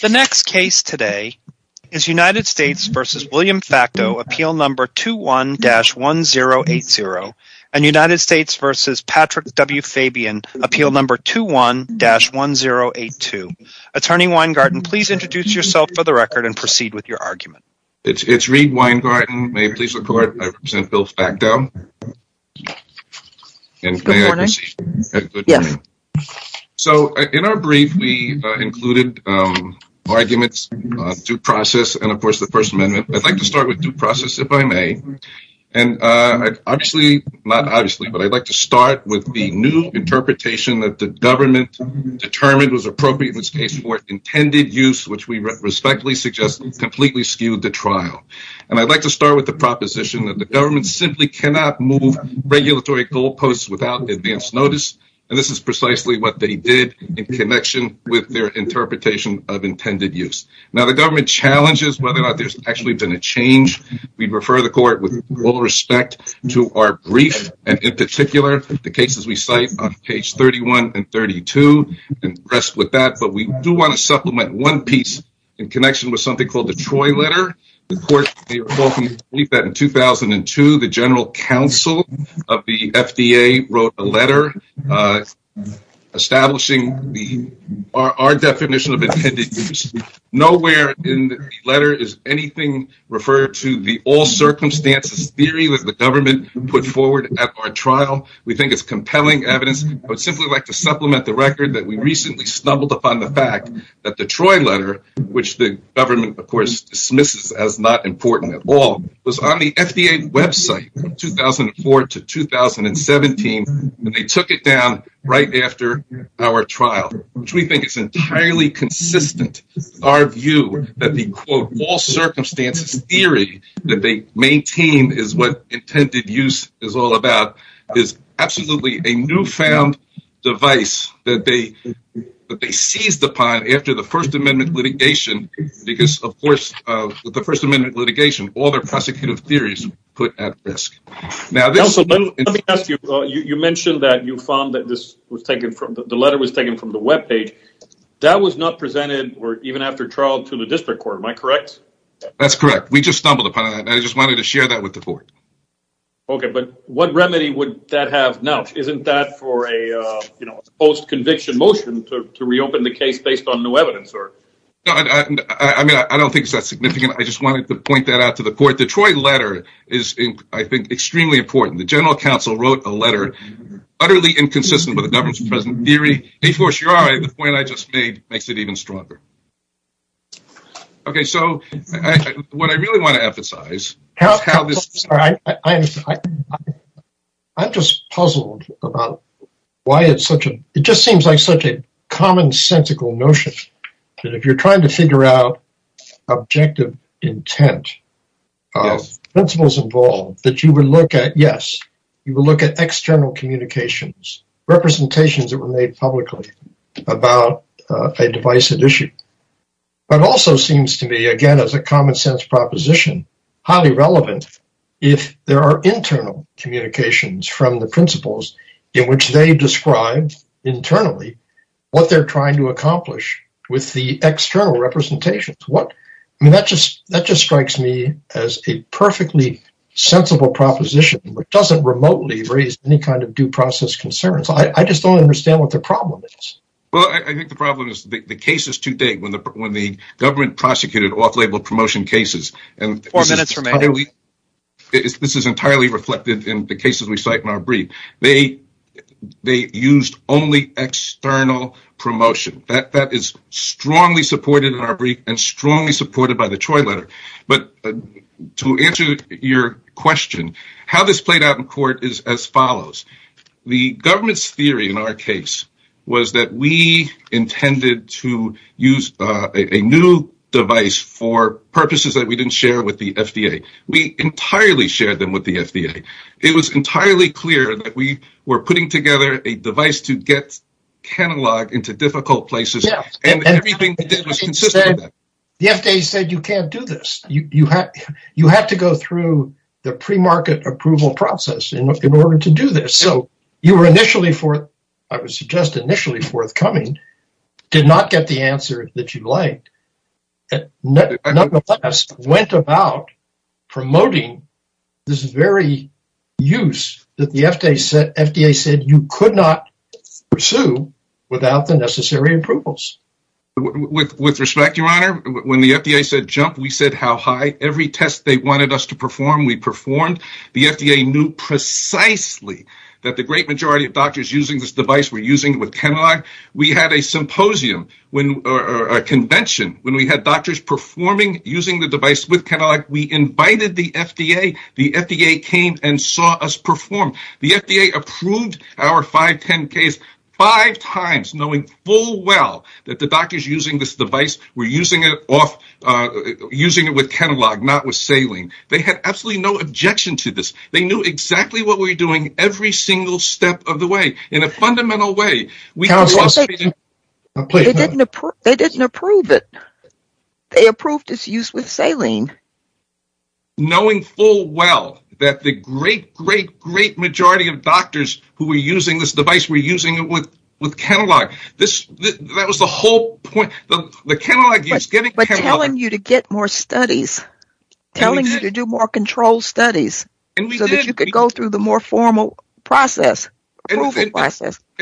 The next case today is United States v. William Facteau, Appeal No. 21-1080, and United States v. Patrick W. Fabian, Appeal No. 21-1082. Attorney Weingarten, please introduce yourself for the record and proceed with your argument. It's Reid Weingarten. May I please report? I represent Bill Facteau. So in our brief, we included arguments, due process, and of course the First Amendment. I'd like to start with due process, if I may. And I'd like to start with the new interpretation that the government determined was appropriate in this case for intended use, which we respectfully suggest completely skewed the trial. And I'd like to start with the proposition that the government simply cannot move regulatory goal posts without advance notice, and this is precisely what they did in connection with their interpretation of intended use. Now the government challenges whether or not there's actually been a change. We refer the court with all respect to our brief, and in particular, the cases we cite on page 31 and 32, and rest with that. But we do want to supplement one piece in connection with something called the Troy letter. The court may recall that in 2002, the general counsel of the FDA wrote a letter establishing our definition of intended use. Nowhere in the letter is anything referred to the all-circumstances theory that the government put forward at our trial. We think it's compelling evidence. I would simply like to supplement the fact that the Troy letter, which the government, of course, dismisses as not important at all, was on the FDA website from 2004 to 2017, and they took it down right after our trial, which we think is entirely consistent with our view that the, quote, all-circumstances theory that they maintain is what intended use is all about, is absolutely a newfound device that they seized upon after the First Amendment litigation, because, of course, with the First Amendment litigation, all their prosecutive theories are put at risk. Now, this is... Nelson, let me ask you, you mentioned that you found that this was taken from, the letter was taken from the webpage. That was not presented, or even after trial, to the district court, am I correct? That's correct. We just stumbled upon that. I just wanted to share that with the court. Okay, but what remedy would that have now? Isn't that for a, you know, post-conviction motion to reopen the case based on new evidence, or? No, I mean, I don't think it's that significant. I just wanted to point that out to the court. The Troy letter is, I think, extremely important. The general counsel wrote a letter utterly inconsistent with the government's present theory. And, of course, you're all right, the point I just made makes it even stronger. Okay, so what I really want to emphasize is how this... I'm just puzzled about why it's such a... It just seems like such a commonsensical notion that if you're trying to figure out objective intent, principles involved, that you would look at, yes, you will look at external communications, representations that were made publicly about a divisive issue. But also seems to be, again, as a common-sense proposition, highly relevant if there are internal communications from the government. But ultimately, what they're trying to accomplish with the external representations, what... I mean, that just strikes me as a perfectly sensible proposition, which doesn't remotely raise any kind of due process concerns. I just don't understand what the problem is. Well, I think the problem is the case is too big when the government prosecuted off-label promotion cases. And this is entirely reflected in the cases we cite in our external promotion. That is strongly supported in our brief and strongly supported by the Troy letter. But to answer your question, how this played out in court is as follows. The government's theory in our case was that we intended to use a new device for purposes that we didn't share with the FDA. We entirely shared them with the FDA. It was entirely clear that we were putting together a device to get catalog into difficult places. And everything we did was consistent with that. The FDA said, you can't do this. You have to go through the pre-market approval process in order to do this. So you were initially for... I would suggest initially forthcoming, did not get the answer that you liked. Nonetheless, went about promoting this very use that the FDA said you could not pursue without the necessary approvals. With respect, your honor, when the FDA said jump, we said how high. Every test they wanted us to perform, we performed. The FDA knew precisely that the great majority of doctors using this device were using it with catalog. We had a symposium or a convention when we had doctors performing using the device with catalog. We approved our 510 case five times knowing full well that the doctors using this device were using it with catalog, not with saline. They had absolutely no objection to this. They knew exactly what we were doing every single step of the way in a fundamental way. They didn't approve it. They were telling you to get more studies, telling you to do more control studies so that you could go through the more formal process.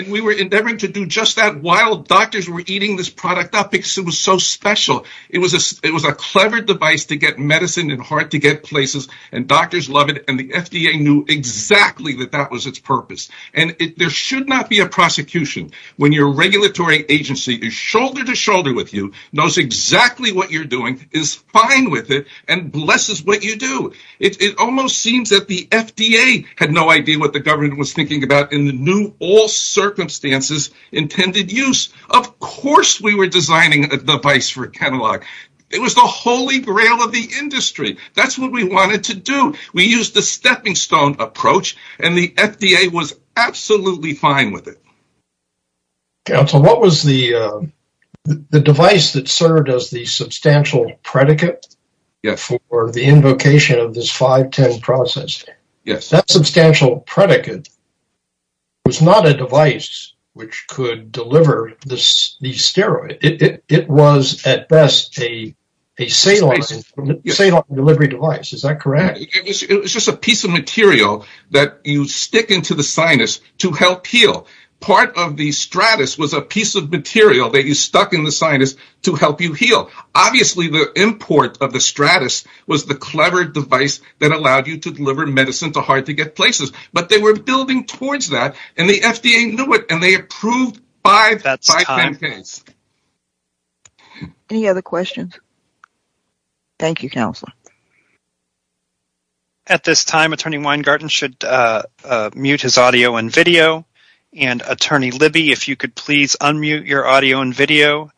We were endeavoring to do just that while doctors were eating this product up because it was so special. It was a clever device to get medicine in hard to get places and doctors loved it. The FDA knew exactly that that was its purpose. There should not be a prosecution when your regulatory agency is shoulder to shoulder with you, knows exactly what you're doing, is fine with it, and blesses what you do. It almost seems that the FDA had no idea what the government was thinking about in the new all circumstances intended use. Of course, we were wanted to do. We used the stepping stone approach and the FDA was absolutely fine with it. Counsel, what was the device that served as the substantial predicate for the invocation of this 510 process? That substantial predicate was not a device which could deliver the steroid. It was at best a saline delivery device, is that correct? It was just a piece of material that you stick into the sinus to help heal. Part of the stratus was a piece of material that you stuck in the sinus to help you heal. Obviously, the import of the stratus was the clever device that allowed you to deliver medicine to hard to get places, but they were building towards that and the FDA knew it and they approved five 510s. Any other questions? Thank you, Counselor. At this time, Attorney Weingarten should mute his audio and video, and Attorney Libby, if you could please unmute your audio and video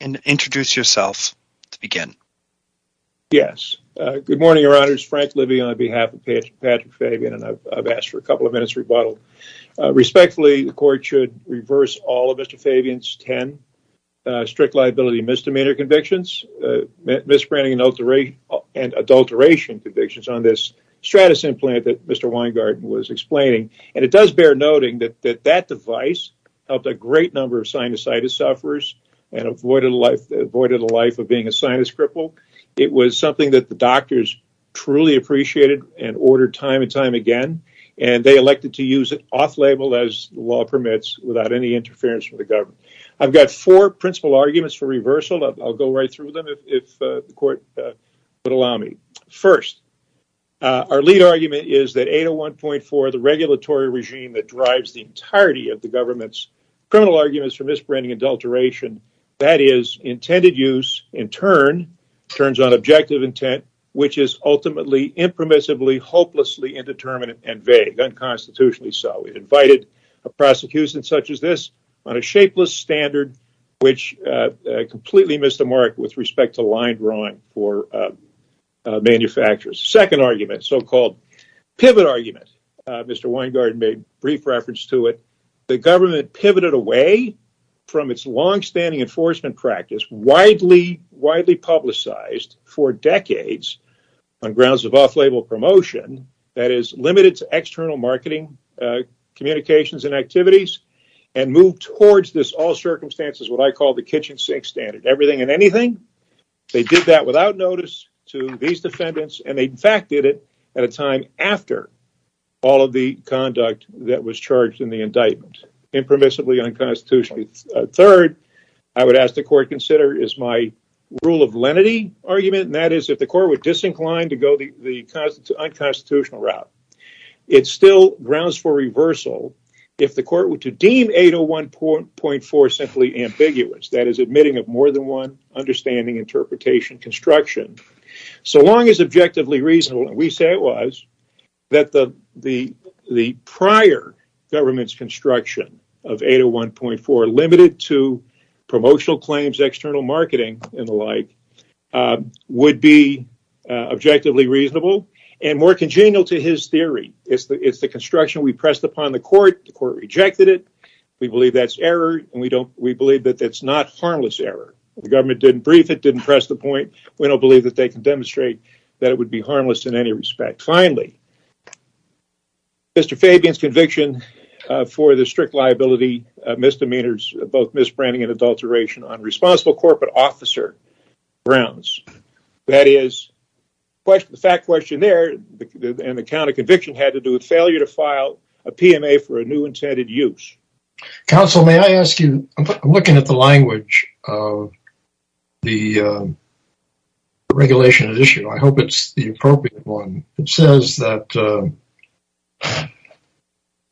and introduce yourself to begin. Yes, good morning, Your Honors. Frank Libby on behalf of Patrick Fabian, and I've asked for a couple of minutes rebuttal. Respectfully, the court should reverse all of Mr. Fabian's 10 strict liability misdemeanor convictions, misbranding and adulteration convictions on this stratus implant that Mr. Weingarten was explaining. It does bear noting that that device helped a great number of sinusitis sufferers and avoided the life of being a sinus cripple. It was something that the doctors truly appreciated and they elected to use it off-label as law permits without any interference from the government. I've got four principal arguments for reversal. I'll go right through them if the court would allow me. First, our lead argument is that 801.4, the regulatory regime that drives the entirety of the government's criminal arguments for misbranding and adulteration, that is intended use in turn turns on objective intent, which is ultimately impermissibly, hopelessly indeterminate and vague, unconstitutionally so. We've invited a prosecution such as this on a shapeless standard, which completely missed the mark with respect to line drawing for manufacturers. Second argument, so-called pivot argument, Mr. Weingarten made brief reference to it. The government pivoted away from its long-standing enforcement practice, widely publicized for communications and activities, and moved towards this all-circumstances, what I call the kitchen sink standard. Everything and anything, they did that without notice to these defendants and they, in fact, did it at a time after all of the conduct that was charged in the indictment, impermissibly unconstitutional. Third, I would ask the court consider is my rule of lenity argument, and that is if the court were disinclined to go the unconstitutional route, it still grounds for reversal if the court were to deem 801.4 simply ambiguous, that is admitting of more than one understanding, interpretation, construction. So long as objectively reasonable, and we say it was, that the prior government's construction of 801.4 limited to promotional claims, external marketing, and the like, would be objectively reasonable and more congenial to his theory. It's the construction we pressed upon the court, the court rejected it, we believe that's error, and we don't, we believe that that's not harmless error. The government didn't brief it, didn't press the point, we don't believe that they can demonstrate that it would be harmless in any respect. Finally, Mr. Fabian's conviction for the strict liability misdemeanors, both misbranding and adulteration on responsible corporate officer grounds, that is, the fact question there and the counter conviction had to do with failure to file a PMA for a new intended use. Counsel, may I ask you, I'm looking at the language of the regulation issue, I hope it's the appropriate one. It says that the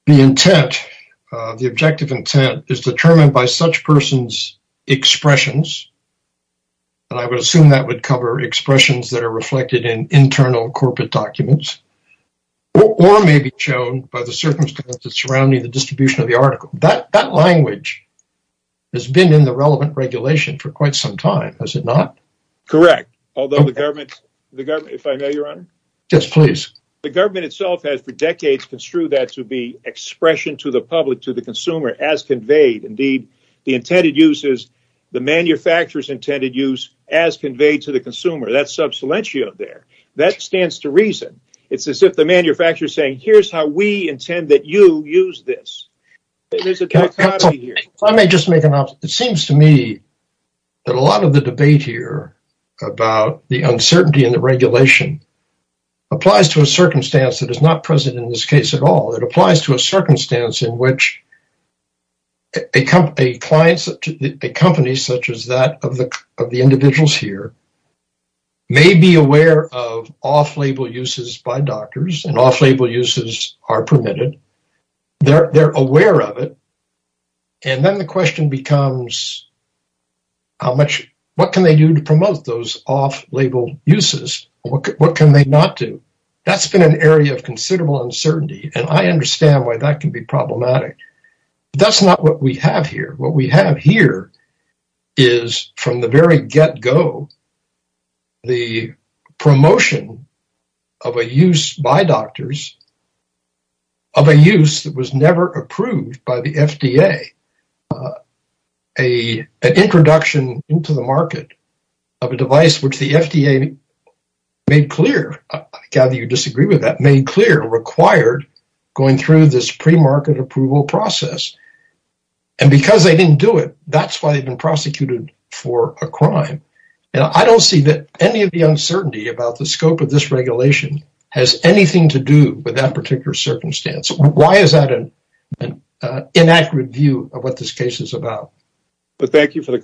intent, the objective intent, is determined by such person's expressions, and I would assume that would cover expressions that are reflected in internal corporate documents, or may be shown by the circumstances surrounding the distribution of the article. That language has been in the relevant regulation for quite some time, has it not? Correct, although the government, if I may, to the consumer as conveyed. Indeed, the intended use is the manufacturer's intended use as conveyed to the consumer. That's substantial there. That stands to reason. It's as if the manufacturer's saying, here's how we intend that you use this. It seems to me that a lot of the debate here about the uncertainty in the regulation applies to a circumstance that is not present in this case at all. It applies to a circumstance in which a company, such as that of the individuals here, may be aware of off-label uses by doctors, and off-label uses are permitted. They're aware of it, and then the question becomes, what can they do to promote those off-label uses? What can they not do? That's been an area of considerable uncertainty, and I understand why that can be problematic. That's not what we have here. What we have here is, from the very get-go, the promotion of a use by doctors, of a use that was never approved by the FDA, an introduction into the FDA, I gather you disagree with that, made clear, required going through this pre-market approval process, and because they didn't do it, that's why they've been prosecuted for a crime. I don't see that any of the uncertainty about the scope of this regulation has anything to do with that particular circumstance. Why is that an inaccurate view of what this case is about? Thank you for the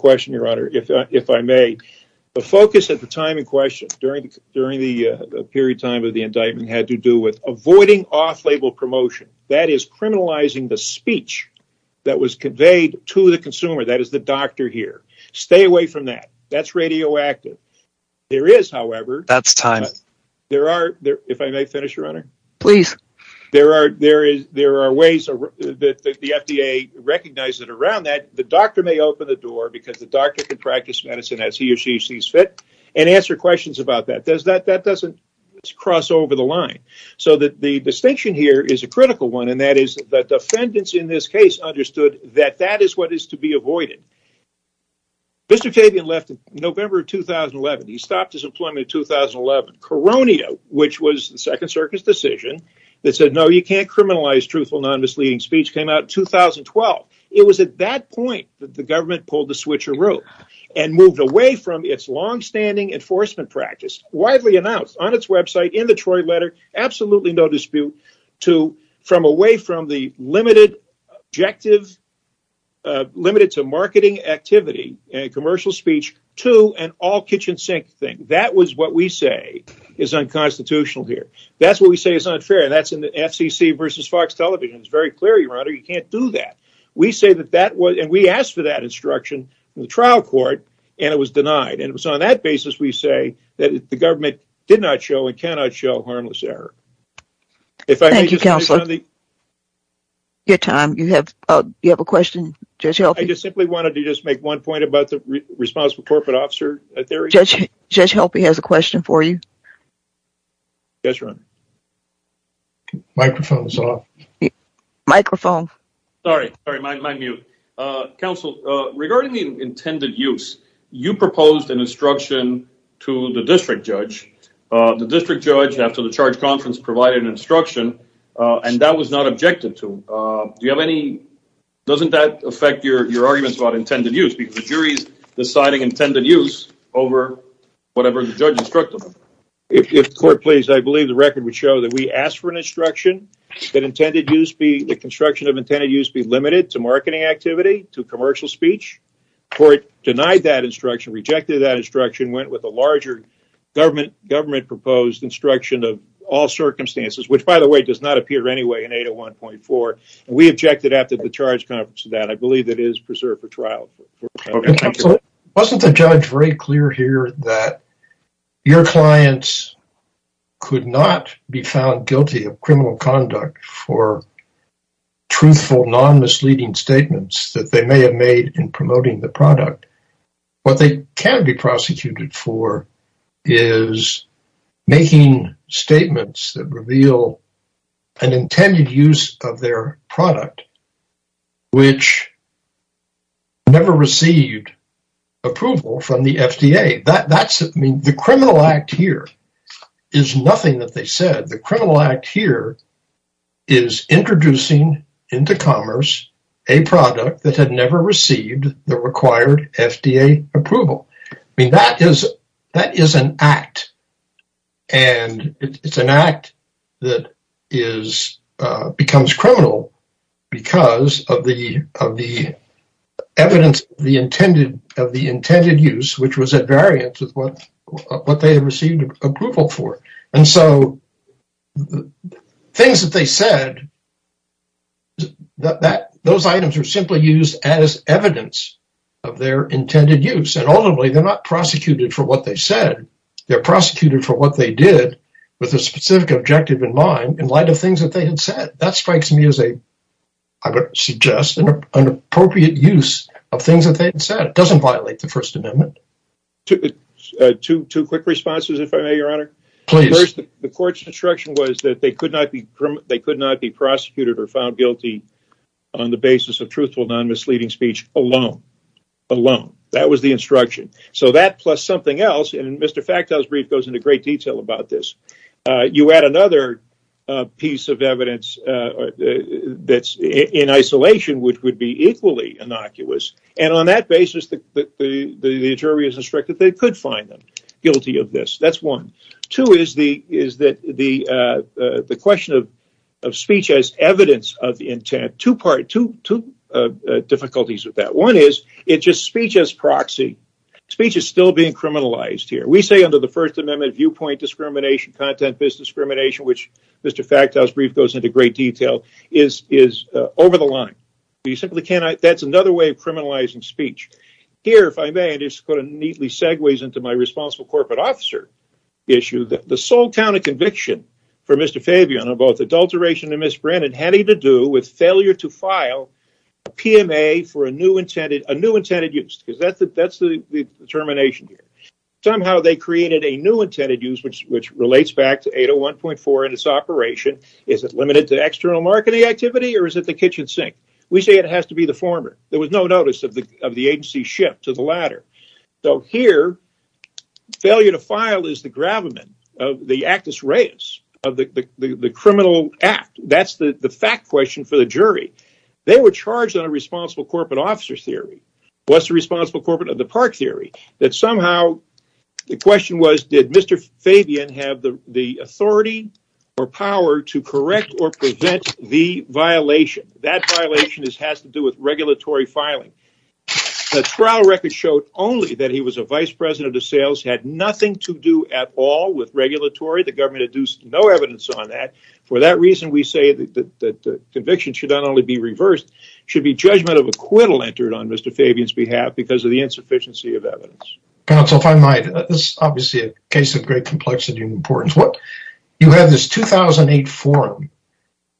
time in question. During the period of time of the indictment, it had to do with avoiding off-label promotion. That is criminalizing the speech that was conveyed to the consumer. That is the doctor here. Stay away from that. That's radioactive. There are ways that the FDA recognizes it around that. The doctor may open the door because the doctor can practice medicine as he sees fit and answer questions about that. That doesn't cross over the line. The distinction here is a critical one, and that is that defendants in this case understood that that is what is to be avoided. Mr. Fabian left in November 2011. He stopped his employment in 2011. Coronia, which was the Second Circuit's decision that said, no, you can't criminalize truthful, non-misleading speech, came out in 2012. It was at that point that the government pulled the switcher its long-standing enforcement practice, widely announced on its website, in the Troy letter, absolutely no dispute, from away from the limited to marketing activity and commercial speech to an all kitchen sink thing. That was what we say is unconstitutional here. That's what we say is unfair. That's in the FCC versus Fox television. It's very clear, Your Honor, you can't do that. We say that that was, and we asked for that instruction in the trial court, and it was denied. And it was on that basis we say that the government did not show and cannot show harmless error. Thank you, Counselor. Your time, you have a question, Judge Helpy? I just simply wanted to just make one point about the responsible corporate officer. Judge Helpy has a question for you. Yes, Your Honor. Microphone is off. Microphone. Sorry, sorry, my mute. Counsel, regarding the intended use, you proposed an instruction to the district judge. The district judge, after the charge conference, provided an instruction, and that was not objected to. Do you have any, doesn't that affect your arguments about intended use? Because the jury's deciding intended use over whatever the judge instructed them. If the court please, I believe the record would show that we asked for an instruction that intended use be, the construction of intended use be limited to marketing activity, to commercial speech. Court denied that instruction, rejected that instruction, went with a larger government proposed instruction of all circumstances, which by the way does not appear anyway in 801.4. We objected after the charge conference to that. I believe that is preserved for trial. Wasn't the judge very clear here that your clients could not be found guilty of criminal conduct for truthful, non-misleading statements that they may have made in promoting the product? What they can be prosecuted for is making statements that reveal an intended use of their product, which never received approval from the FDA. That's, I mean, the criminal act here is nothing that they said. The criminal act here is introducing into commerce a product that had never received the required FDA approval. I mean, that is, that is an act and it's an act that is, becomes criminal because of the, of the evidence, the intended, of the intended use, which was at variance with what, what they had received approval for. And so, the things that they said, that, that, those items are simply used as evidence of their intended use. And ultimately they're not prosecuted for what they said. They're prosecuted for what they did with a specific objective in mind in light of things that they had said. That strikes me as a, I would suggest an appropriate use of things that they had said. It doesn't violate the that they could not be, they could not be prosecuted or found guilty on the basis of truthful, non-misleading speech alone, alone. That was the instruction. So that plus something else, and Mr. Factow's brief goes into great detail about this. You add another piece of evidence that's in isolation, which would be equally innocuous. And on that basis, the, the, the jury is instructed that they could find them guilty of this. That's one. Two is the, is that the, the question of, of speech as evidence of intent, two part, two, two difficulties with that. One is it just speech as proxy. Speech is still being criminalized here. We say under the first amendment, viewpoint discrimination, content, business discrimination, which Mr. Factow's brief goes into great detail, is, is over the line. You simply cannot, that's another way of criminalizing speech. Here, if I may, just put a neatly segues into my responsible corporate officer issue that the sole count of conviction for Mr. Fabian on both adulteration and misbranded had anything to do with failure to file a PMA for a new intended, a new intended use, because that's the, that's the determination here. Somehow they created a new intended use, which, which relates back to 801.4 and its operation. Is it limited to external marketing activity or is it the kitchen sink? We say it has to be the former. There was no notice of the, of the agency ship to the latter. So here failure to file is the gravamen of the actus reus of the criminal act. That's the fact question for the jury. They were charged on a responsible corporate officer theory. What's the responsible corporate of the park theory that somehow the question was, did Mr. Fabian have the authority or power to correct or prevent the violation? That violation is, has to do with regulatory filing. The trial record showed only that he was a vice president of sales, had nothing to do at all with regulatory. The government had used no evidence on that. For that reason, we say that the conviction should not only be reversed, should be judgment of acquittal entered on Mr. Fabian's behalf because of the insufficiency of evidence. Counsel, if I might, this is obviously a case of great complexity and importance. What you have this 2008 forum,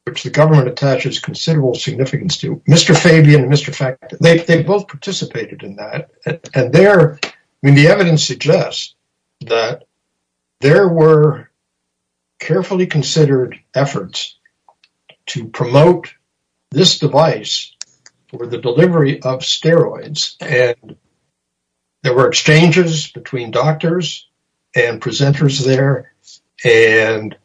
which the government attaches considerable significance to Mr. Fabian and Mr. Factor, they both participated in that. And there, I mean, the evidence suggests that there were carefully considered efforts to promote this device or the delivery of steroids. And there were exchanges between doctors and presenters there. And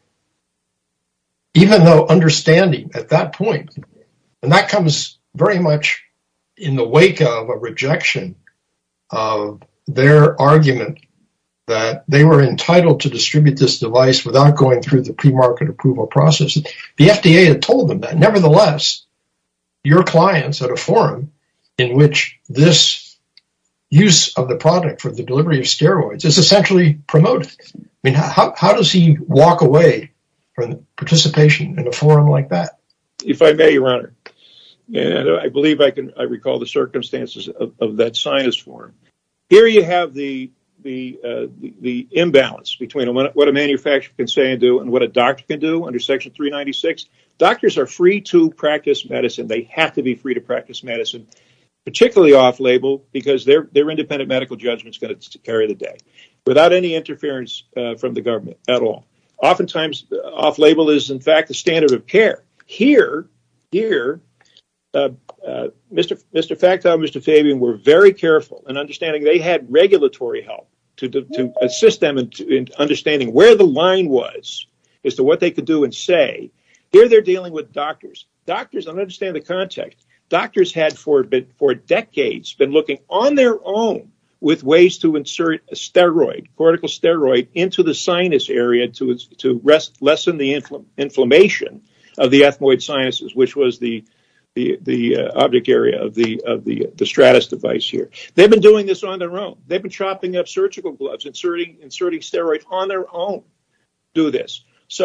even though understanding at that point, and that comes very much in the wake of a rejection of their argument that they were entitled to distribute this device without going through the pre-market approval process, the FDA had told them that. Nevertheless, your clients at a forum in which this use of the product for the delivery of steroids is essentially promoted. I mean, how does he walk away from participation in a forum like that? If I may, Your Honor, I believe I can recall the circumstances of that science forum. Here, you have the imbalance between what a manufacturer can say and do and what a doctor can do under Section 396. Doctors are free to practice medicine. They have to be free to practice medicine, particularly off-label because their independent medical judgment is going to carry the day without any interference from the government at all. Oftentimes, off-label is in fact, the standard of care. Here, Mr. Factor and Mr. Fabian were very careful in understanding they had regulatory help to assist them in understanding where the line was as to what they could do and say. Here, theyíre dealing with doctors. I donít understand the context. Doctors had for decades been looking on their own with ways to insert a cortical steroid into the sinus area to lessen the inflammation of the ethmoid sinuses, which was the object area of the Stratus device here. Theyíve been doing this on their own. Theyíve been chopping up surgical gloves and inserting steroids on their own to do this. As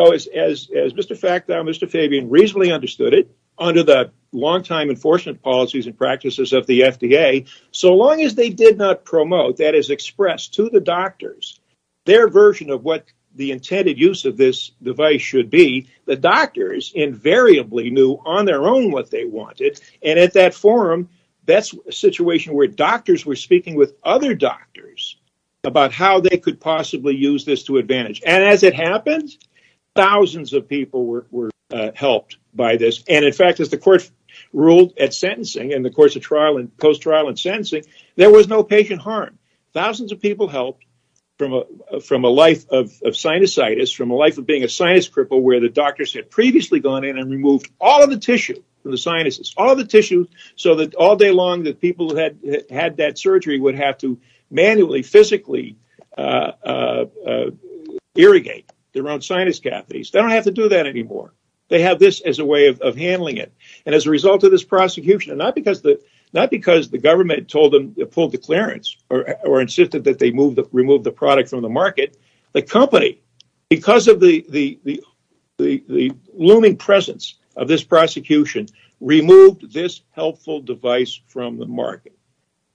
Mr. Factor and Mr. Fabian reasonably understood it, under the long-time enforcement policies and practices of the FDA, so long as they did not promote that as expressed to the doctors, their version of what the intended use of this device should be, the doctors invariably knew on their own what they wanted. At that forum, thatís a speaking with other doctors about how they could possibly use this to advantage. As it happened, thousands of people were helped by this. In fact, as the court ruled at sentencing, in the course of trial and post-trial and sentencing, there was no patient harm. Thousands of people helped from a life of sinusitis, from a life of being a sinus cripple where the doctors had previously gone in and removed all of the tissue from the sinuses so that all day long, the people who had that surgery would have to manually physically irrigate their own sinus catheters. They donít have to do that anymore. They have this as a way of handling it. As a result of this prosecution, not because the government told them to pull the clearance or insisted that they remove the product from the market, the company, because of the looming presence of this prosecution, removed this helpful device from the market.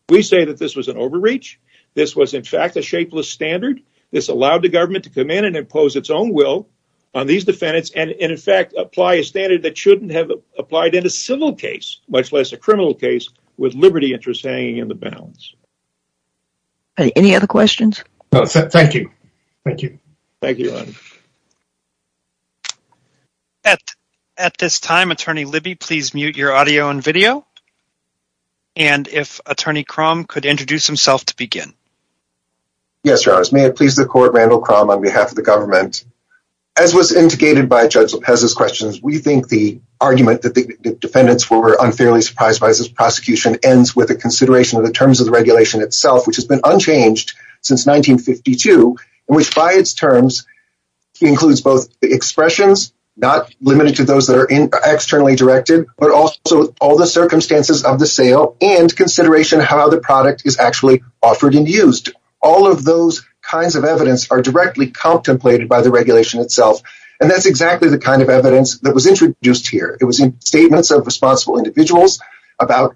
We say that this was an overreach. This was, in fact, a shapeless standard. This allowed the government to come in and impose its own will on these defendants and, in fact, apply a standard that shouldnít have applied in a civil case, much less a criminal case, with liberty interests hanging in the balance. Any other questions? No. Thank you. Thank you. Thank you, Adam. At this time, Attorney Libby, please mute your audio and video. And if Attorney Cromm could introduce himself to begin. Yes, Your Honors. May it please the Court, Randall Cromm, on behalf of the government. As was indicated by Judge Lopezís questions, we think the argument that the defendants were unfairly surprised by this prosecution ends with a consideration of the terms of the regulation itself, which has been unchanged since 1952, and which, by its terms, includes both the expressions, not limited to those that are externally directed, but also all the circumstances of the sale and consideration of how the product is actually offered and used. All of those kinds of evidence are directly contemplated by the regulation itself, and thatís exactly the kind of evidence that was introduced here. It was in statements of responsible individuals about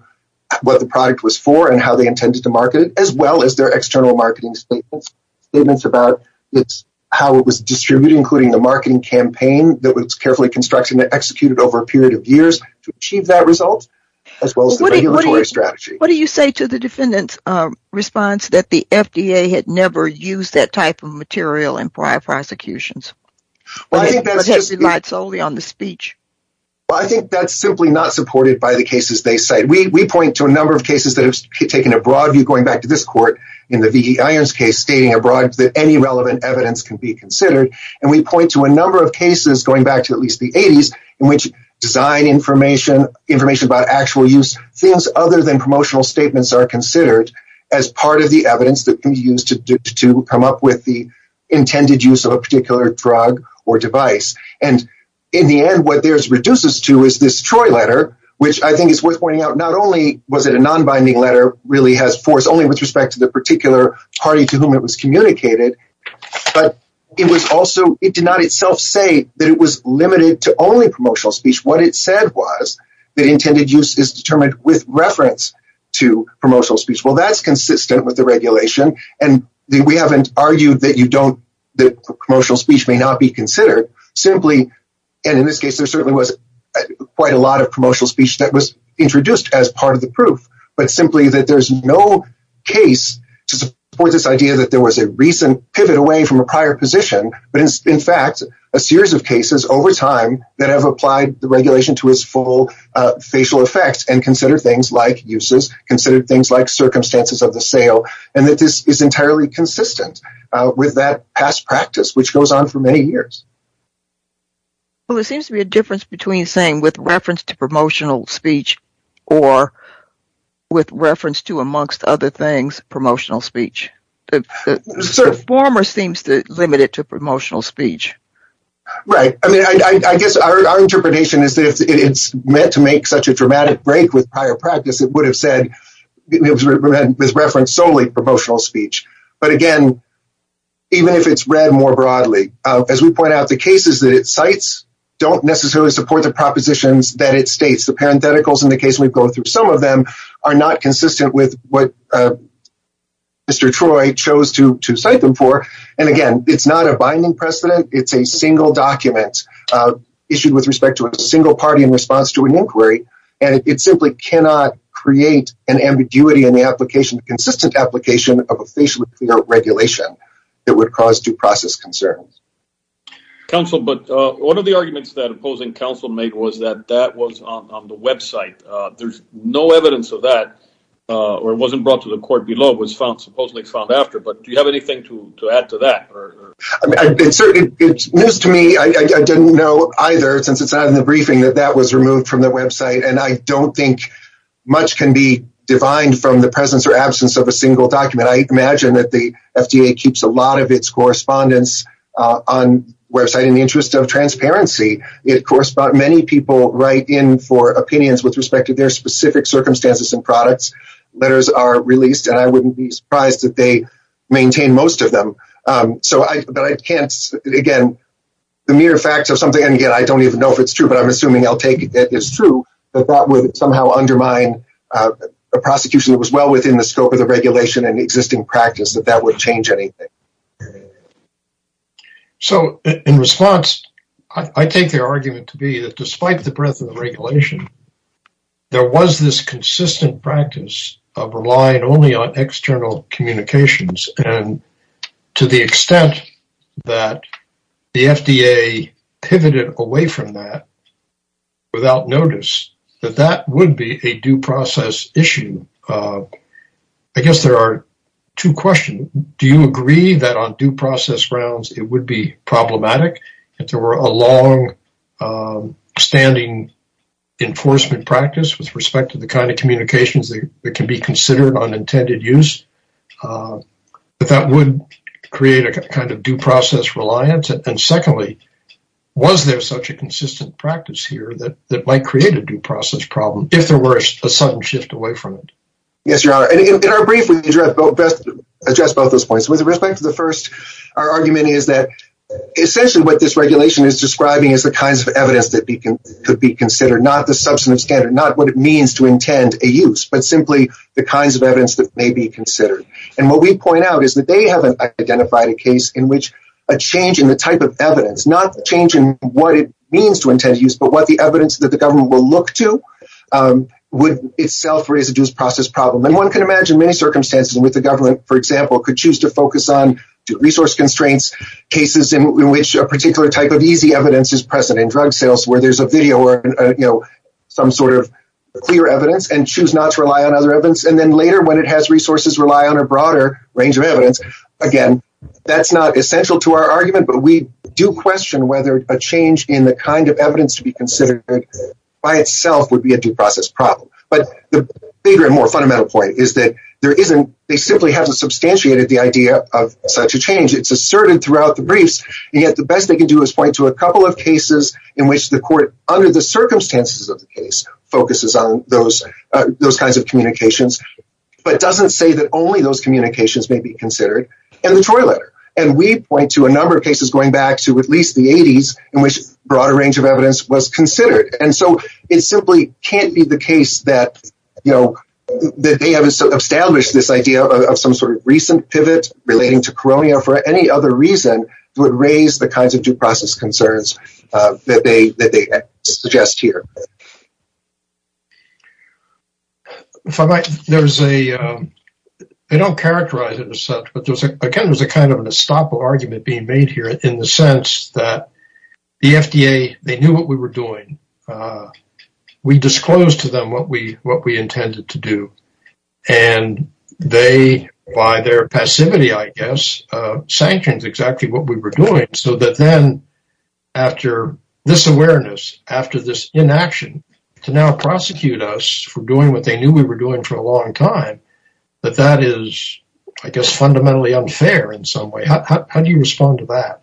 what the product was for and how they intended to market it, as well as their external marketing statements, statements about how it was distributed, including a marketing campaign that was carefully constructed and executed over a period of years to achieve that result, as well as the regulatory strategy. What do you say to the defendantsí response that the FDA had never used that type of material in prior prosecutions, that it relied solely on the speech? Well, I think thatís simply not supported by the cases they cite. We point to a number of cases, taking a broad view, going back to this court in the V.E. Irons case, stating that any relevant evidence can be considered, and we point to a number of cases, going back to at least the ë80s, in which design information, information about actual use, things other than promotional statements are considered as part of the evidence that can be used to come up with the intended use of a particular drug or device. In the end, what this reduces to is this Troy letter, which I think really has force only with respect to the particular party to whom it was communicated, but it did not itself say that it was limited to only promotional speech. What it said was that intended use is determined with reference to promotional speech. Well, thatís consistent with the regulation, and we havenít argued that promotional speech may not be considered. In this case, there certainly was quite a lot of promotional speech that was no case to support this idea that there was a recent pivot away from a prior position, but in fact, a series of cases over time that have applied the regulation to its full facial effects and consider things like uses, consider things like circumstances of the sale, and that this is entirely consistent with that past practice, which goes on for many years. Well, there seems to be a reference to promotional speech, or with reference to, amongst other things, promotional speech. The former seems to limit it to promotional speech. Right. I mean, I guess our interpretation is that if itís meant to make such a dramatic break with prior practice, it would have said with reference solely to promotional speech. But again, even if itís read more broadly, as we point out, the cases that it cites donít necessarily support the propositions that it states. The parentheticals in the case weíve gone through, some of them are not consistent with what Mr. Troy chose to cite them for, and again, itís not a binding precedent. Itís a single document issued with respect to a single party in response to an inquiry, and it simply cannot create an ambiguity in the application, consistent application of a facially clear regulation that would cause due process concerns. Counsel, but one of the arguments that opposing counsel made was that that was on the website. Thereís no evidence of that, or it wasnít brought to the court below, it was found, supposedly found after, but do you have anything to add to that? I mean, itís news to me, I didnít know either, since itís not in the briefing, that that was removed from the website, and I donít think much can be defined from the correspondence on the website. In the interest of transparency, many people write in for opinions with respect to their specific circumstances and products. Letters are released, and I wouldnít be surprised if they maintain most of them, but I canít, again, the mere fact of something, and again, I donít even know if itís true, but Iím assuming Iíll take it as true, that that would somehow undermine a prosecution that was well within the scope of the regulation and existing practice, that that would change anything. So, in response, I take their argument to be that despite the breadth of the regulation, there was this consistent practice of relying only on external communications, and to the extent that the FDA pivoted away from that without notice, that that would be a due process issue. I guess there are two questions. Do you agree that on due process grounds, it would be problematic if there were a long-standing enforcement practice with respect to the kind of communications that can be considered on intended use, that that would create a kind of due process reliance? And secondly, was there such a problem if there were a sudden shift away from it? Yes, Your Honor. In our brief, we address both those points. With respect to the first, our argument is that essentially what this regulation is describing is the kinds of evidence that could be considered, not the substantive standard, not what it means to intend a use, but simply the kinds of evidence that may be considered. And what we point out is that they havenít identified a case in which a change in the type of evidence, not the change in what it means to intend a use, but what the evidence that the government will look to, would itself raise a due process problem. And one can imagine many circumstances in which the government, for example, could choose to focus on resource constraints, cases in which a particular type of easy evidence is present in drug sales, where thereís a video or some sort of clear evidence, and choose not to rely on other evidence. And then later when it has resources rely on a broader range of evidence, again, thatís not essential to our argument, but we do question whether a change in the kind of evidence to be considered by itself would be a due process problem. But the bigger and more fundamental point is that they simply havenít substantiated the idea of such a change. Itís asserted throughout the briefs, and yet the best they can do is point to a couple of cases in which the court, under the circumstances of the case, focuses on those kinds of communications, but doesnít say that only those communications may be considered, and the Tory letter. And we point to a number of cases going back to at least the 80s, in which a broader range of evidence was considered. And so it simply canít be the case that, you know, that they have established this idea of some sort of recent pivot relating to coronia for any other reason would raise the kinds of due process concerns that they suggest here. They donít characterize it as such, but again, thereís a kind of an estoppel argument being made here in the sense that the FDA, they knew what we were doing. We disclosed to them what we intended to do. And they, by their passivity, I guess, sanctioned exactly what we were doing. So that then, after this awareness, after this inaction, to now prosecute us for doing what they knew we were doing for a long time, that that is, I guess, fundamentally unfair in some way. How do you respond to that?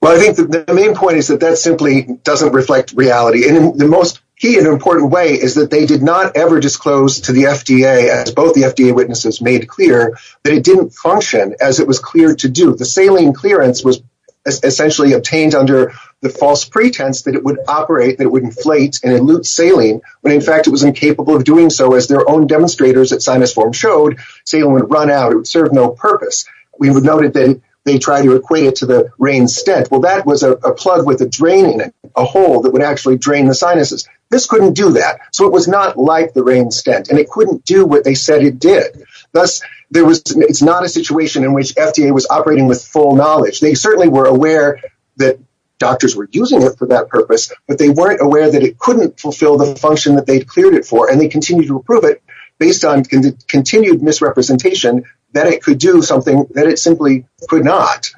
Well, I think the main point is that that simply doesnít reflect reality. And the most key and important way is that they did not ever disclose to the FDA, as both the FDA witnesses made clear, that it didnít function as it was clear to do. The saline clearance was essentially obtained under the false pretense that it would operate, that it would inflate and elute saline, when in fact it was incapable of doing so, as their own demonstrators at SinusForm showed. Saline would run out. It would serve no purpose. We noted that they tried to equate it to the rain stent. Well, that was a plug with a drain in it, a hole that would actually drain the sinuses. This couldnít do that. So it was not like the rain stent. And it couldnít do what they said it did. Thus, there was, itís not a situation in which FDA was operating with full knowledge. They certainly were aware that doctors were using it for that purpose, but they werenít aware that it couldnít fulfill the function that theyíd cleared it for. And they continued to prove it, based on continued misrepresentation, that it could do something that it simply could not.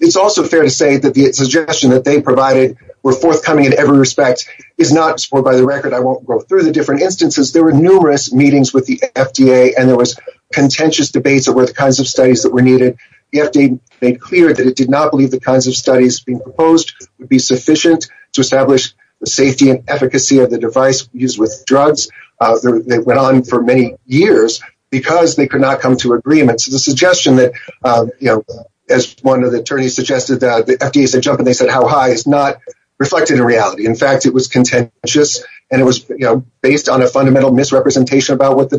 Itís also fair to say that the suggestion that they provided were forthcoming in every respect is not, or by the record, I wonít go through the different instances. There were numerous meetings with the FDA and there was contentious debates over the studies that were needed. The FDA made clear that it did not believe the kinds of studies being proposed would be sufficient to establish the safety and efficacy of the device used with drugs. They went on for many years because they could not come to agreement. So the suggestion that, as one of the attorneys suggested, the FDA said, ìHow high?î is not reflected in reality. In fact, it was contentious and it was based on a fundamental misrepresentation about what does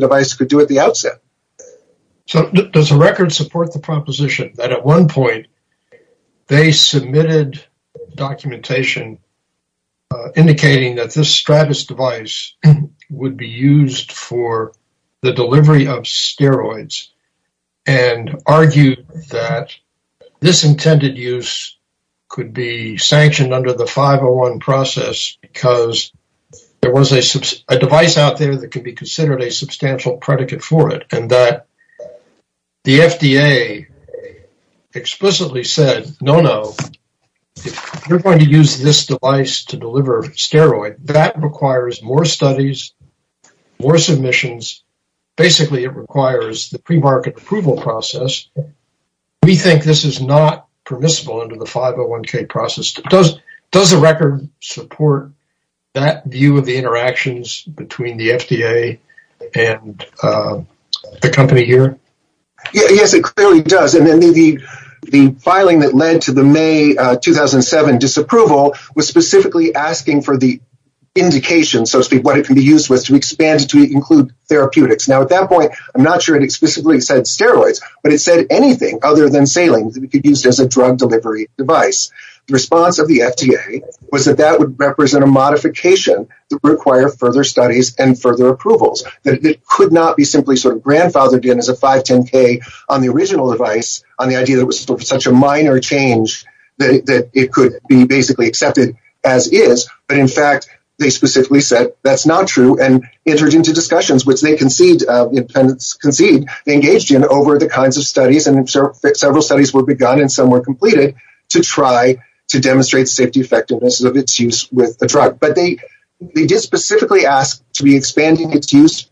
the record support the proposition that at one point they submitted documentation indicating that this Stratus device would be used for the delivery of steroids and argued that this intended use could be sanctioned under the 501 process because there was a device out there that could be considered a substantial predicate for it and that the FDA explicitly said, ìNo, no. If youíre going to use this device to deliver steroids, that requires more studies, more submissions. Basically, it requires the premarket approval process. We think this is not permissible under the 501k process. Does the record support that view of the interactions between the FDA and the company here? Yes, it clearly does. The filing that led to the May 2007 disapproval was specifically asking for the indication, so to speak, what it could be used with to expand to include therapeutics. At that point, Iím not sure it explicitly said steroids, but it said anything other than saline that could be used as a drug delivery device. The response of the FDA was that that would represent a modification that would require further studies and further approvals. It could not be simply sort of grandfathered in as a 510k on the original device on the idea that it was such a minor change that it could be basically accepted as is, but in fact, they specifically said, ìThatís not true,î and entered into discussions, which they conceded over the kinds of studies. Several studies were begun and some were completed to try to demonstrate safety effectiveness of its use with the drug, but they did specifically ask to be expanding its use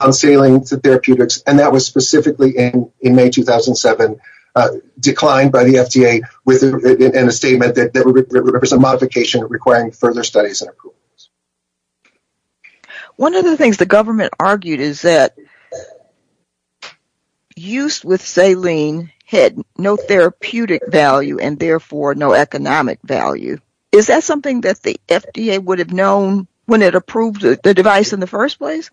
on saline therapeutics, and that was specifically in May 2007 declined by the FDA in a statement that would represent a modification requiring further studies and approvals. One of the things the government argued is that the use with saline had no therapeutic value and therefore no economic value. Is that something that the FDA would have known when it approved the device in the first place?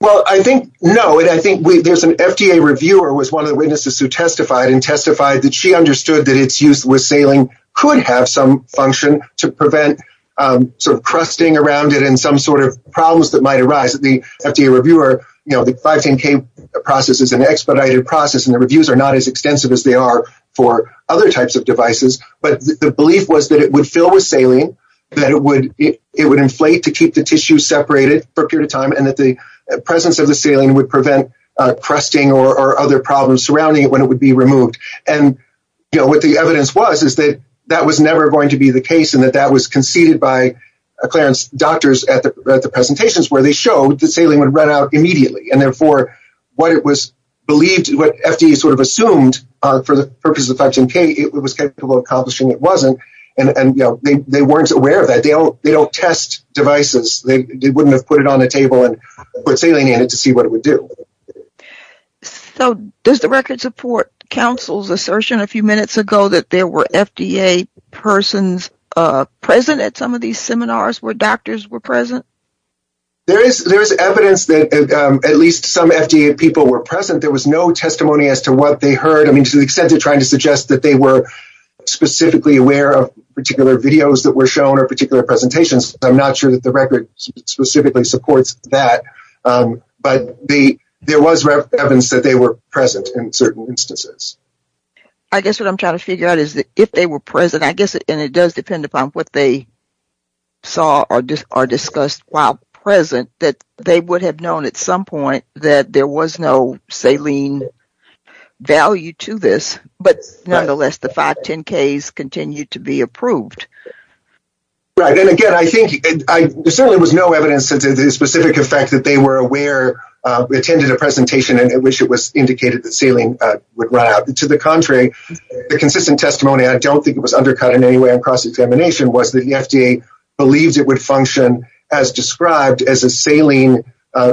Well, I think no, and I think thereís an FDA reviewer who was one of the witnesses who testified and testified that she understood that its use with saline could have some function to prevent sort of crusting around it and some sort of problems that might arise. The FDA reviewer, the 510k process is an expedited process and the reviews are not as extensive as they are for other types of devices, but the belief was that it would fill with saline, that it would inflate to keep the tissue separated for a period of time, and that the presence of the saline would prevent crusting or other problems surrounding it when it would be removed. What the evidence was is that that was never going to be the case and that that was conceded by doctors at the presentations where they showed that saline would run out immediately and therefore what it was believed, what FDA sort of assumed for the purpose of the 510k, it was capable of accomplishing, it wasnít, and they werenít aware of that. They donít test devices. They wouldnít have put it on the table and put saline in it to see what it would do. So does the record support counselís assertion a few minutes ago that there were FDA persons present at some of these seminars where doctors were present? There is evidence that at least some FDA people were present. There was no testimony as to what they heard. I mean, to the extent of trying to suggest that they were specifically aware of particular videos that were shown or particular presentations, Iím not sure that the record specifically supports that, but there was evidence that they were present in certain instances. I guess what Iím trying to figure out is that if they were present, I guess, and it does depend upon what they saw or discussed while present, that they would have known at some point that there was no saline value to this, but nonetheless, the 510ks continued to be approved. Right, and again, I think there certainly was no evidence to the specific effect that they were aware, attended a presentation in which it indicated that saline would run out. To the contrary, the consistent testimony, I donít think it was undercut in any way on cross-examination, was that the FDA believed it would function as described as a saline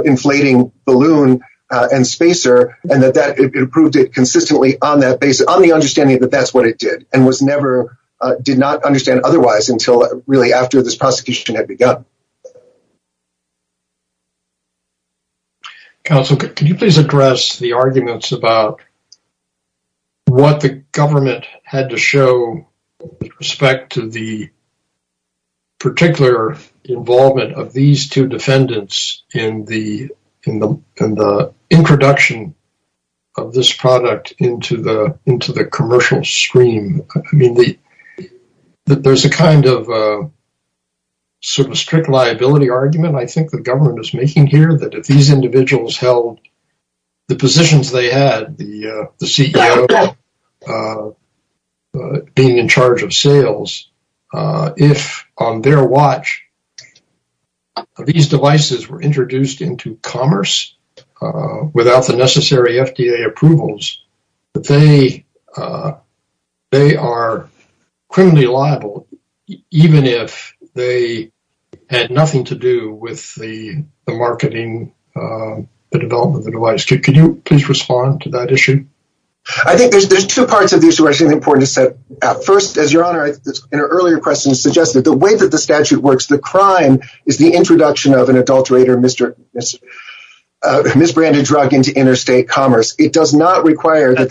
inflating balloon and spacer, and that it approved it consistently on the understanding that thatís what it did, and did not understand otherwise until really after this prosecution had begun. Counsel, could you please address the arguments about what the government had to show with respect to the particular involvement of these two defendants in the introduction of this product into the commercial stream? I mean, thereís a kind of sort of strict liability argument I think the government is making here that if these individuals held the positions they had, the CEO being in charge of sales, if on their watch these devices were introduced into commerce without the necessary FDA approvals, that they are criminally liable even if they had nothing to do with the marketing, the development of the device. Could you please respond to that issue? I think thereís two parts of this that are important to set out. First, as your Honor, in an earlier question suggested, the way that the statute works, the crime is the introduction of an adulterer. It does not require that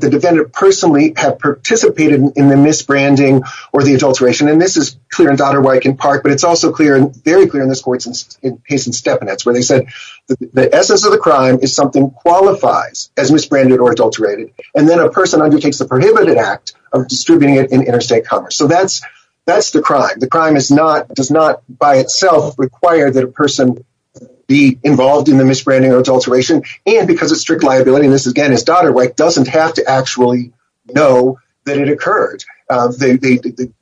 the defendant personally have participated in the misbranding or the adulteration, and this is clear in Dodderwike and Park, but itís also very clear in this case in Stepanetz where they said the essence of the crime is something qualifies as misbranded or adulterated, and then a person undertakes the prohibited act of distributing it in interstate commerce. So thatís the crime. The crime does not by itself require that a person be involved in the misbranding or adulteration, and because of strict liability, and this again is Dodderwike, doesnít have to actually know that it occurred. The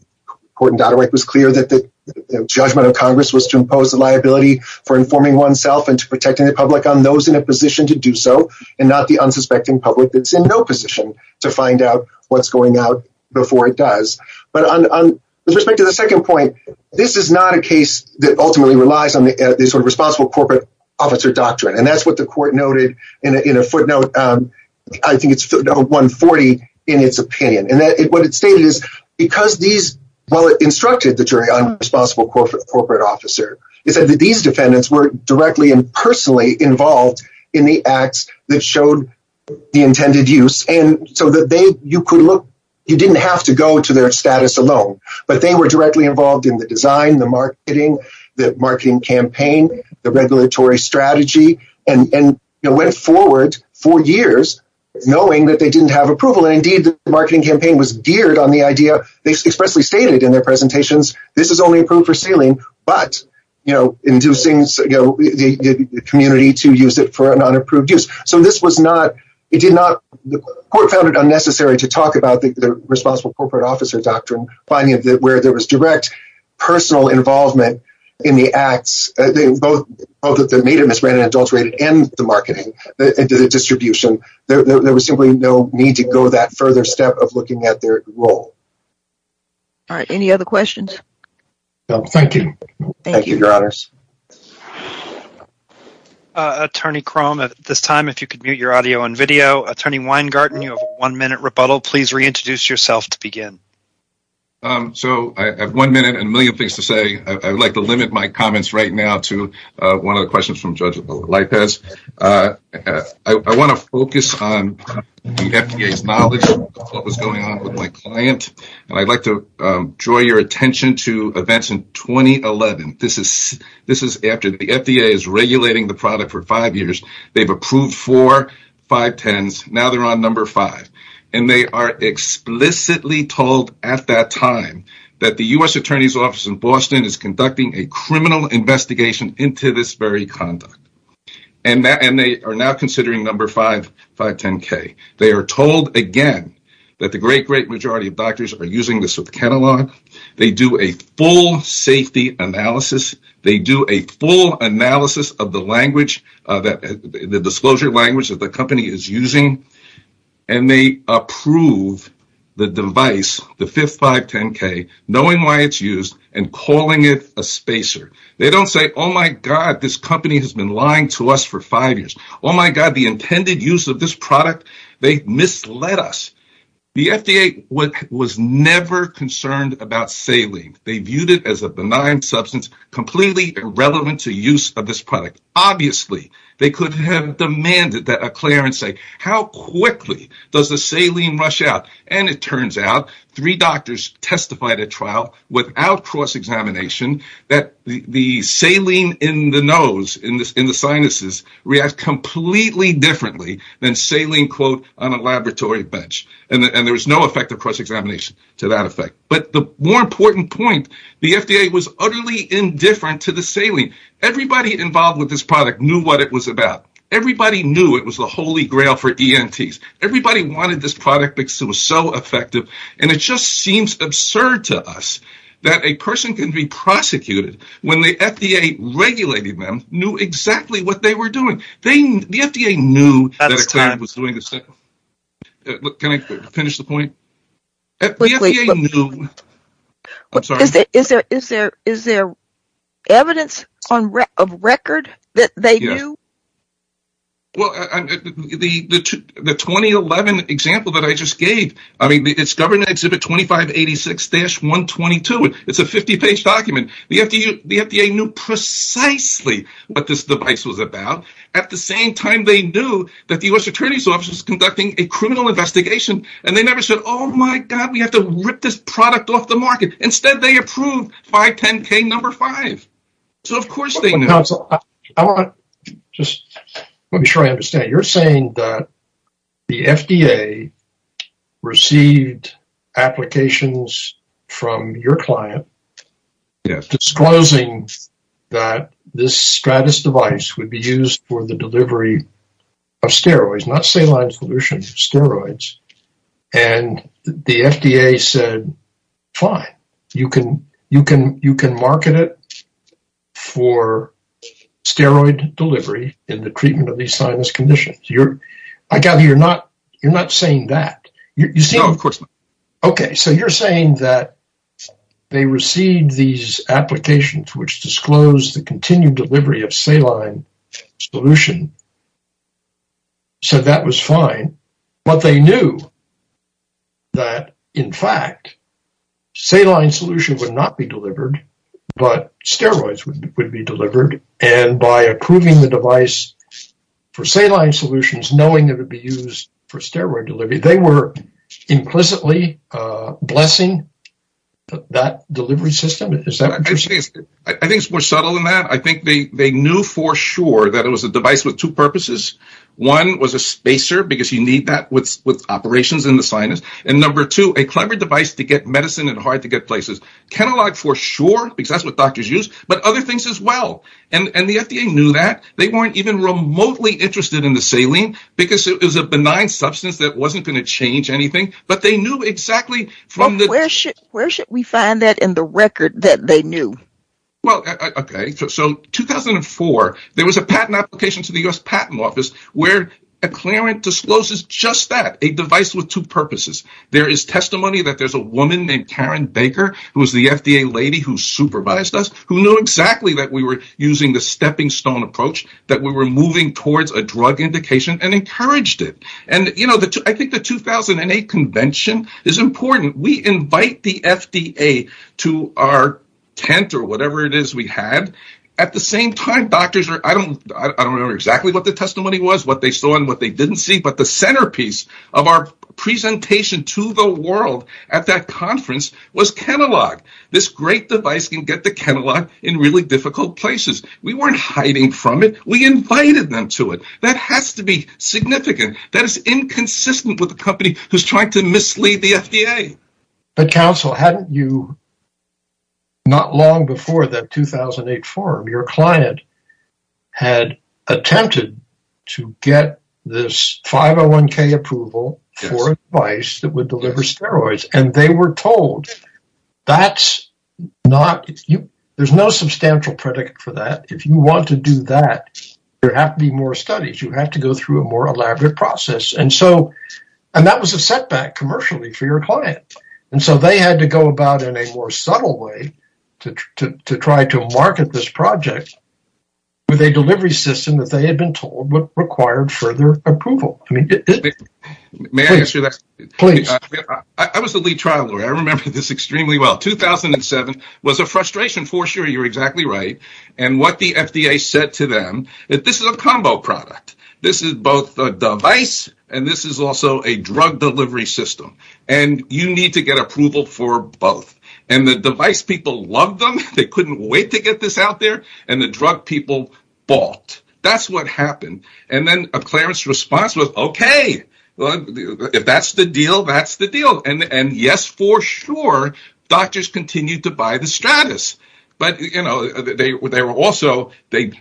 court in Dodderwike was clear that the judgment of Congress was to impose a liability for informing oneself and protecting the public on those in a position to do so and not the unsuspecting public thatís in no position to find out whatís going on before it does. But with respect to the second point, this is not a case that ultimately relies on the sort of responsible corporate officer doctrine, and thatís what the court noted in a footnote, I think itís 140 in its opinion, and what it stated is, because these, well it instructed the jury on responsible corporate officer, it said that these you could look, you didnít have to go to their status alone, but they were directly involved in the design, the marketing, the marketing campaign, the regulatory strategy, and went forward for years knowing that they didnít have approval, and indeed the marketing campaign was geared on the idea, they expressly stated in their presentations, this is only approved for sealing, but inducing the community to use it for an unapproved use. So this was not, it did not, the court found it unnecessary to talk about the responsible corporate officer doctrine, finding that where there was direct personal involvement in the acts, both that made it misrepresented and adulterated, and the marketing, the distribution, there was simply no need to go that further step of looking at their role. Alright, any other questions? No, thank you. Thank you, your honors. Attorney Crum, at this time, if you could mute your audio and video. Attorney Weingarten, you have a one-minute rebuttal, please reintroduce yourself to begin. So, I have one minute and a million things to say. Iíd like to limit my comments right now to one of the questions from Judge Lopez. I want to focus on the FDAís knowledge of what was going on with my client, and Iíd like to draw your attention to events in 2011. This is after the FDA is regulating the product for five years. Theyíve approved four 510s, now theyíre on number five. And they are explicitly told at that time that the U.S. Attorneyís Office in Boston is conducting a criminal investigation into this very conduct. And they are now considering number five, they are told again that the great, great majority of doctors are using this with Catalog, they do a full safety analysis, they do a full analysis of the disclosure language that the company is using, and they approve the device, the fifth 510K, knowing why itís used and calling it a spacer. They donít say, ìOh my God, this company has been lying to us for five years. Oh my God, the intended use of this product, they misled us.î The FDA was never concerned about saline. They viewed it as a benign substance, completely irrelevant to use of this product. Obviously, they could have demanded that a clearance say, ìHow quickly does the saline rush out?î And it turns out, three doctors testified at trial without cross-examination that the saline in the nose, in the sinuses, reacts completely differently than saline on a laboratory bench, and there was no effect of cross-examination to that effect. But the more important point, the FDA was utterly indifferent to the saline. Everybody involved with this product knew what it was about. Everybody knew it was the holy grail for ENTs. Everybody wanted this product because it was so effective, and it just seems absurd to us that a person can be prosecuted when the FDA regulated them, knew exactly what they were doing. The FDA knew. Is there evidence of record that they knew? Well, the 2011 example that I just gave, I mean, it's covered in Exhibit 2586-122. It's a 50-page document. The FDA knew precisely what this device was about. At the same time, they knew that the U.S. Attorneyís Office was conducting a criminal investigation, and they never said, ìOh, my God, we have to rip this product off the market.î Instead, they approved 510K No. 5. I want to just make sure I understand. You're saying that the FDA received applications from your client disclosing that this Stratus device would be used for the delivery of steroids, not saline solution, steroids, and the FDA said, ìFine. You can market it for steroid delivery in the treatment of these sinus conditions.î I gather you're not saying that. No, of course not. Okay, so you're saying that they received these applications which disclosed the continued delivery of saline solution, so that was fine, but they knew that, in fact, saline solution would not be delivered, but steroids would be delivered, and by approving the device for saline solutions, knowing it would be used for steroid delivery, they were implicitly blessing that delivery system? Is that what you're saying? I think it's more subtle than that. I think they knew for sure that it was a device with two purposes. One was a spacer because you need that with operations in the sinus, and number two, a clever device to get medicine in hard-to-get places. Catalog for sure because that's what doctors use, but other things as well, and the FDA knew that. They weren't even remotely interested in the saline because it was a benign substance that wasn't going to change anything, but they knew exactly from theÖ Well, okay, so 2004, there was a patent application to the U.S. Patent Office where a clearance discloses just that, a device with two purposes. There is testimony that there's a woman named Karen Baker, who was the FDA lady who supervised us, who knew exactly that we were using the stepping stone approach, that we were moving towards a drug indication and encouraged it. I think the 2008 convention is important. We invite the FDA to our tent or whatever it is we had. At the same time, I don't remember exactly what the testimony was, what they saw and what they didn't see, but the centerpiece of our presentation to the world at that conference was catalog. This great device can get the catalog in really difficult places. We weren't hiding from it. We invited them to it. That has to be significant. That is inconsistent with a company who's trying to mislead the FDA. But counsel, hadn't you, not long before that 2008 forum, your client had attempted to get this 501k approval for a device that would deliver and they were told there's no substantial predicate for that. If you want to do that, there have to be more studies. You have to go through a more elaborate process. That was a setback commercially for your client. They had to go about in a more subtle way to try to market this project with a delivery system that they had been told would require further approval. I was the lead trial lawyer. I remember this extremely well. 2007 was a frustration for sure. You're exactly right. What the FDA said to them, this is a combo product. This is both a device and this is also a drug delivery system. You need to get approval for both. The device people loved them. They couldn't wait to get this out there. The drug people bought. That's what happened. Then Clarence's response was, okay, if that's the deal, that's the deal. Yes, for sure, doctors continued to buy the Stratus. They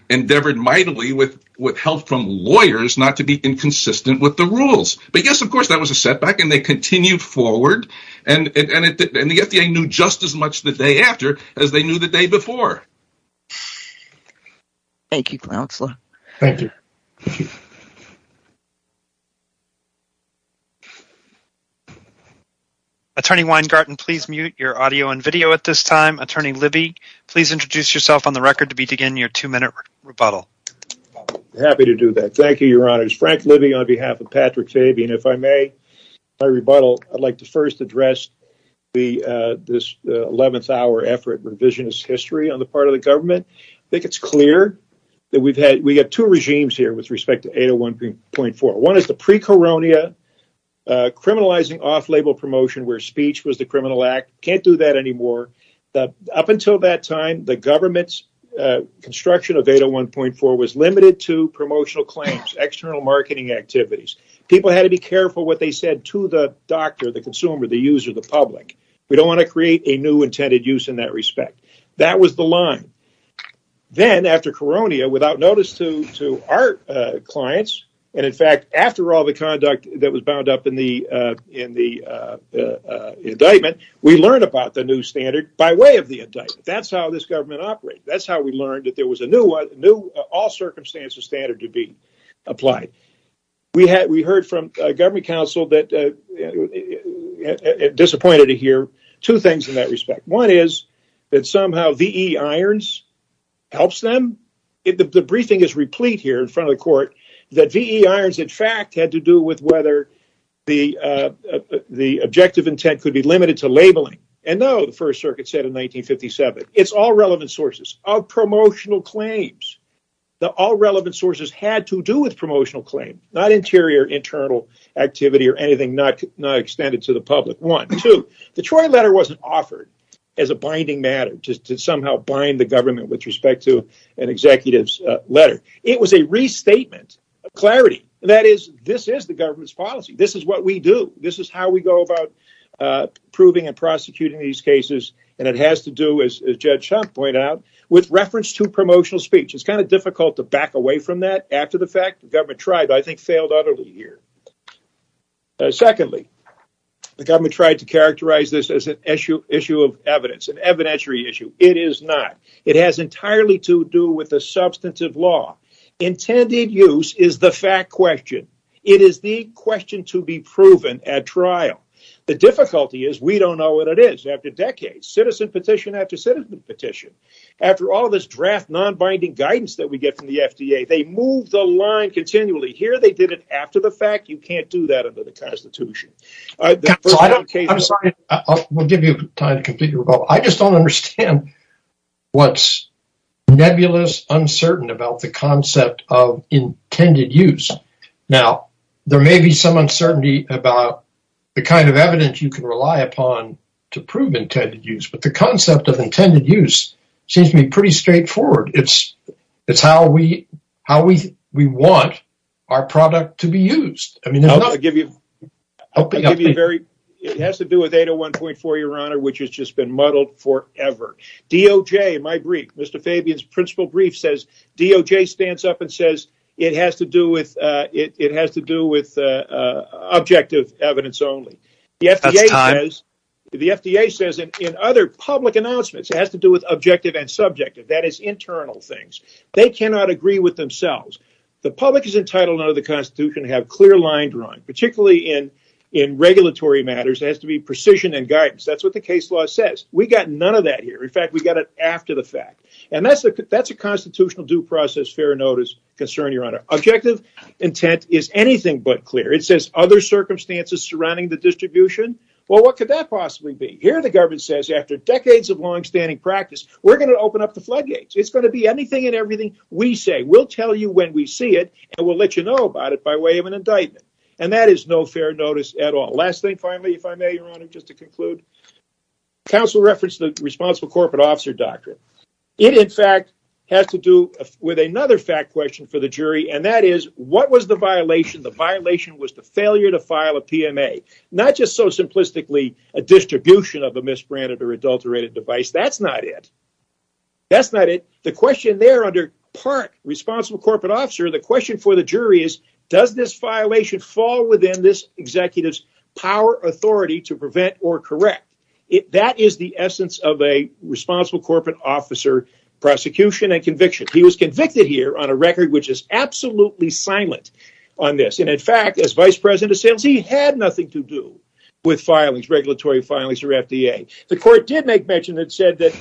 endeavored mightily with help from lawyers not to be inconsistent with the rules. Yes, of course, that was a setback and they continued forward. The FDA knew just as much the day after as they knew the day before. Thank you, counselor. Thank you. Attorney Weingarten, please mute your audio and video at this time. Attorney Libby, please introduce yourself on the record to begin your two-minute rebuttal. Happy to do that. Thank you, your honors. Frank Libby on behalf of Patrick Fabian. If I may, my rebuttal, I'd like to first address this 11th hour effort revisionist history on the part of government. I think it's clear that we have two regimes here with respect to 801.4. One is the pre-Coronia criminalizing off-label promotion where speech was the criminal act. We can't do that anymore. Up until that time, the government's construction of 801.4 was limited to promotional claims, external marketing activities. People had to be careful what they said to the doctor, the consumer, the user, the public. We don't want to create a new intended use in that respect. That was the line. Then after Coronia, without notice to our clients, and in fact, after all the conduct that was bound up in the indictment, we learned about the new standard by way of the indictment. That's how this government operates. That's how we learned that there was a new all-circumstances standard to be applied. We heard from government counsel that it disappointed to hear two things in that respect. One is that somehow V.E. Irons helps them. The briefing is replete here in front of the court that V.E. Irons, in fact, had to do with whether the objective intent could be limited to labeling. No, the First Circuit said in 1957, it's all relevant sources of promotional claims. All relevant sources had to do with promotional claims, not interior internal activity or anything not extended to the public. Two, the Troy letter wasn't offered as a binding matter to somehow bind the government with respect to an executive's letter. It was a restatement of clarity. This is the government's policy. This is what we do. This is how we go about proving and prosecuting these cases, and it has to do with reference to promotional speech. It's difficult to back away from that after the fact. The government tried, but I think failed utterly here. Secondly, the government tried to characterize this as an issue of evidence, an evidentiary issue. It is not. It has entirely to do with the substantive law. Intended use is the fact question. It is the question to be proven at trial. The difficulty is we don't know what it is. After decades, citizen petition after citizen petition, after all this draft non-binding guidance that we get from the FDA, they move the line continually. Here, they did it after the fact. You can't do that under the Constitution. I just don't understand what's nebulous, uncertain about the concept of intended use. Now, there may be some uncertainty about the kind of evidence you can rely upon to prove intended use, but the concept of intended use seems to be pretty straightforward. It's how we want our product to be used. It has to do with 801.4, Your Honor, which has just been muddled forever. DOJ, my brief, Mr. Fabian's principal brief says DOJ stands up and says it has to do with objective evidence only. The FDA says in other public announcements, it has to do with objective and subjective, that is internal things. They cannot agree with themselves. The public is entitled under the Constitution to have clear line drawing, particularly in regulatory matters. It has to be precision and guidance. That's what the case law says. We got none of that here. In fact, we got it after the fact. That's a constitutional due process, fair notice concern, Your Honor. Objective intent is anything but clear. It says other circumstances surrounding the distribution. Well, what could that possibly be? Here, the government says after decades of longstanding practice, we're going to open up the floodgates. It's going to be anything and everything we say. We'll tell you when we see it, and we'll let you know about it by way of an indictment, and that is no fair notice at all. Last thing, finally, if I may, Your Honor, just to conclude, counsel referenced the responsible corporate officer doctrine. It, in fact, has to do with another fact question for the jury, and that is, what was the violation? The violation was the failure to file a PMA, not just so simplistically a distribution of a misbranded or adulterated device. That's not it. That's not it. The question there under part responsible corporate officer, the question for the jury is, does this violation fall within this executive's power authority to prevent or correct? That is the essence of a responsible corporate officer prosecution and convicted here on a record which is absolutely silent on this. In fact, as vice president of sales, he had nothing to do with regulatory filings or FDA. The court did make mention and said that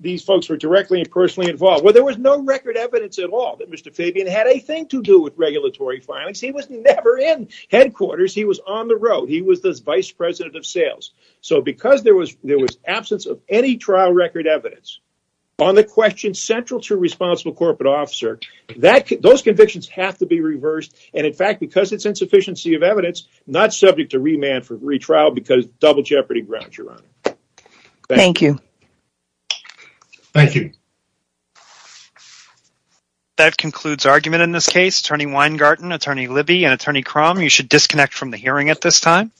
these folks were directly and personally involved. Well, there was no record evidence at all that Mr. Fabian had a thing to do with regulatory filings. He was never in headquarters. He was on the road. He was the vice president of sales. Because there was absence of any trial record evidence on the question central to responsible corporate officer, those convictions have to be reversed. In fact, because it's insufficiency of evidence, not subject to remand for retrial because double jeopardy grounds you're on. Thank you. Thank you. That concludes argument in this case. Attorney Weingarten, Attorney Libby, and Attorney Crum, you should disconnect from the hearing at this time.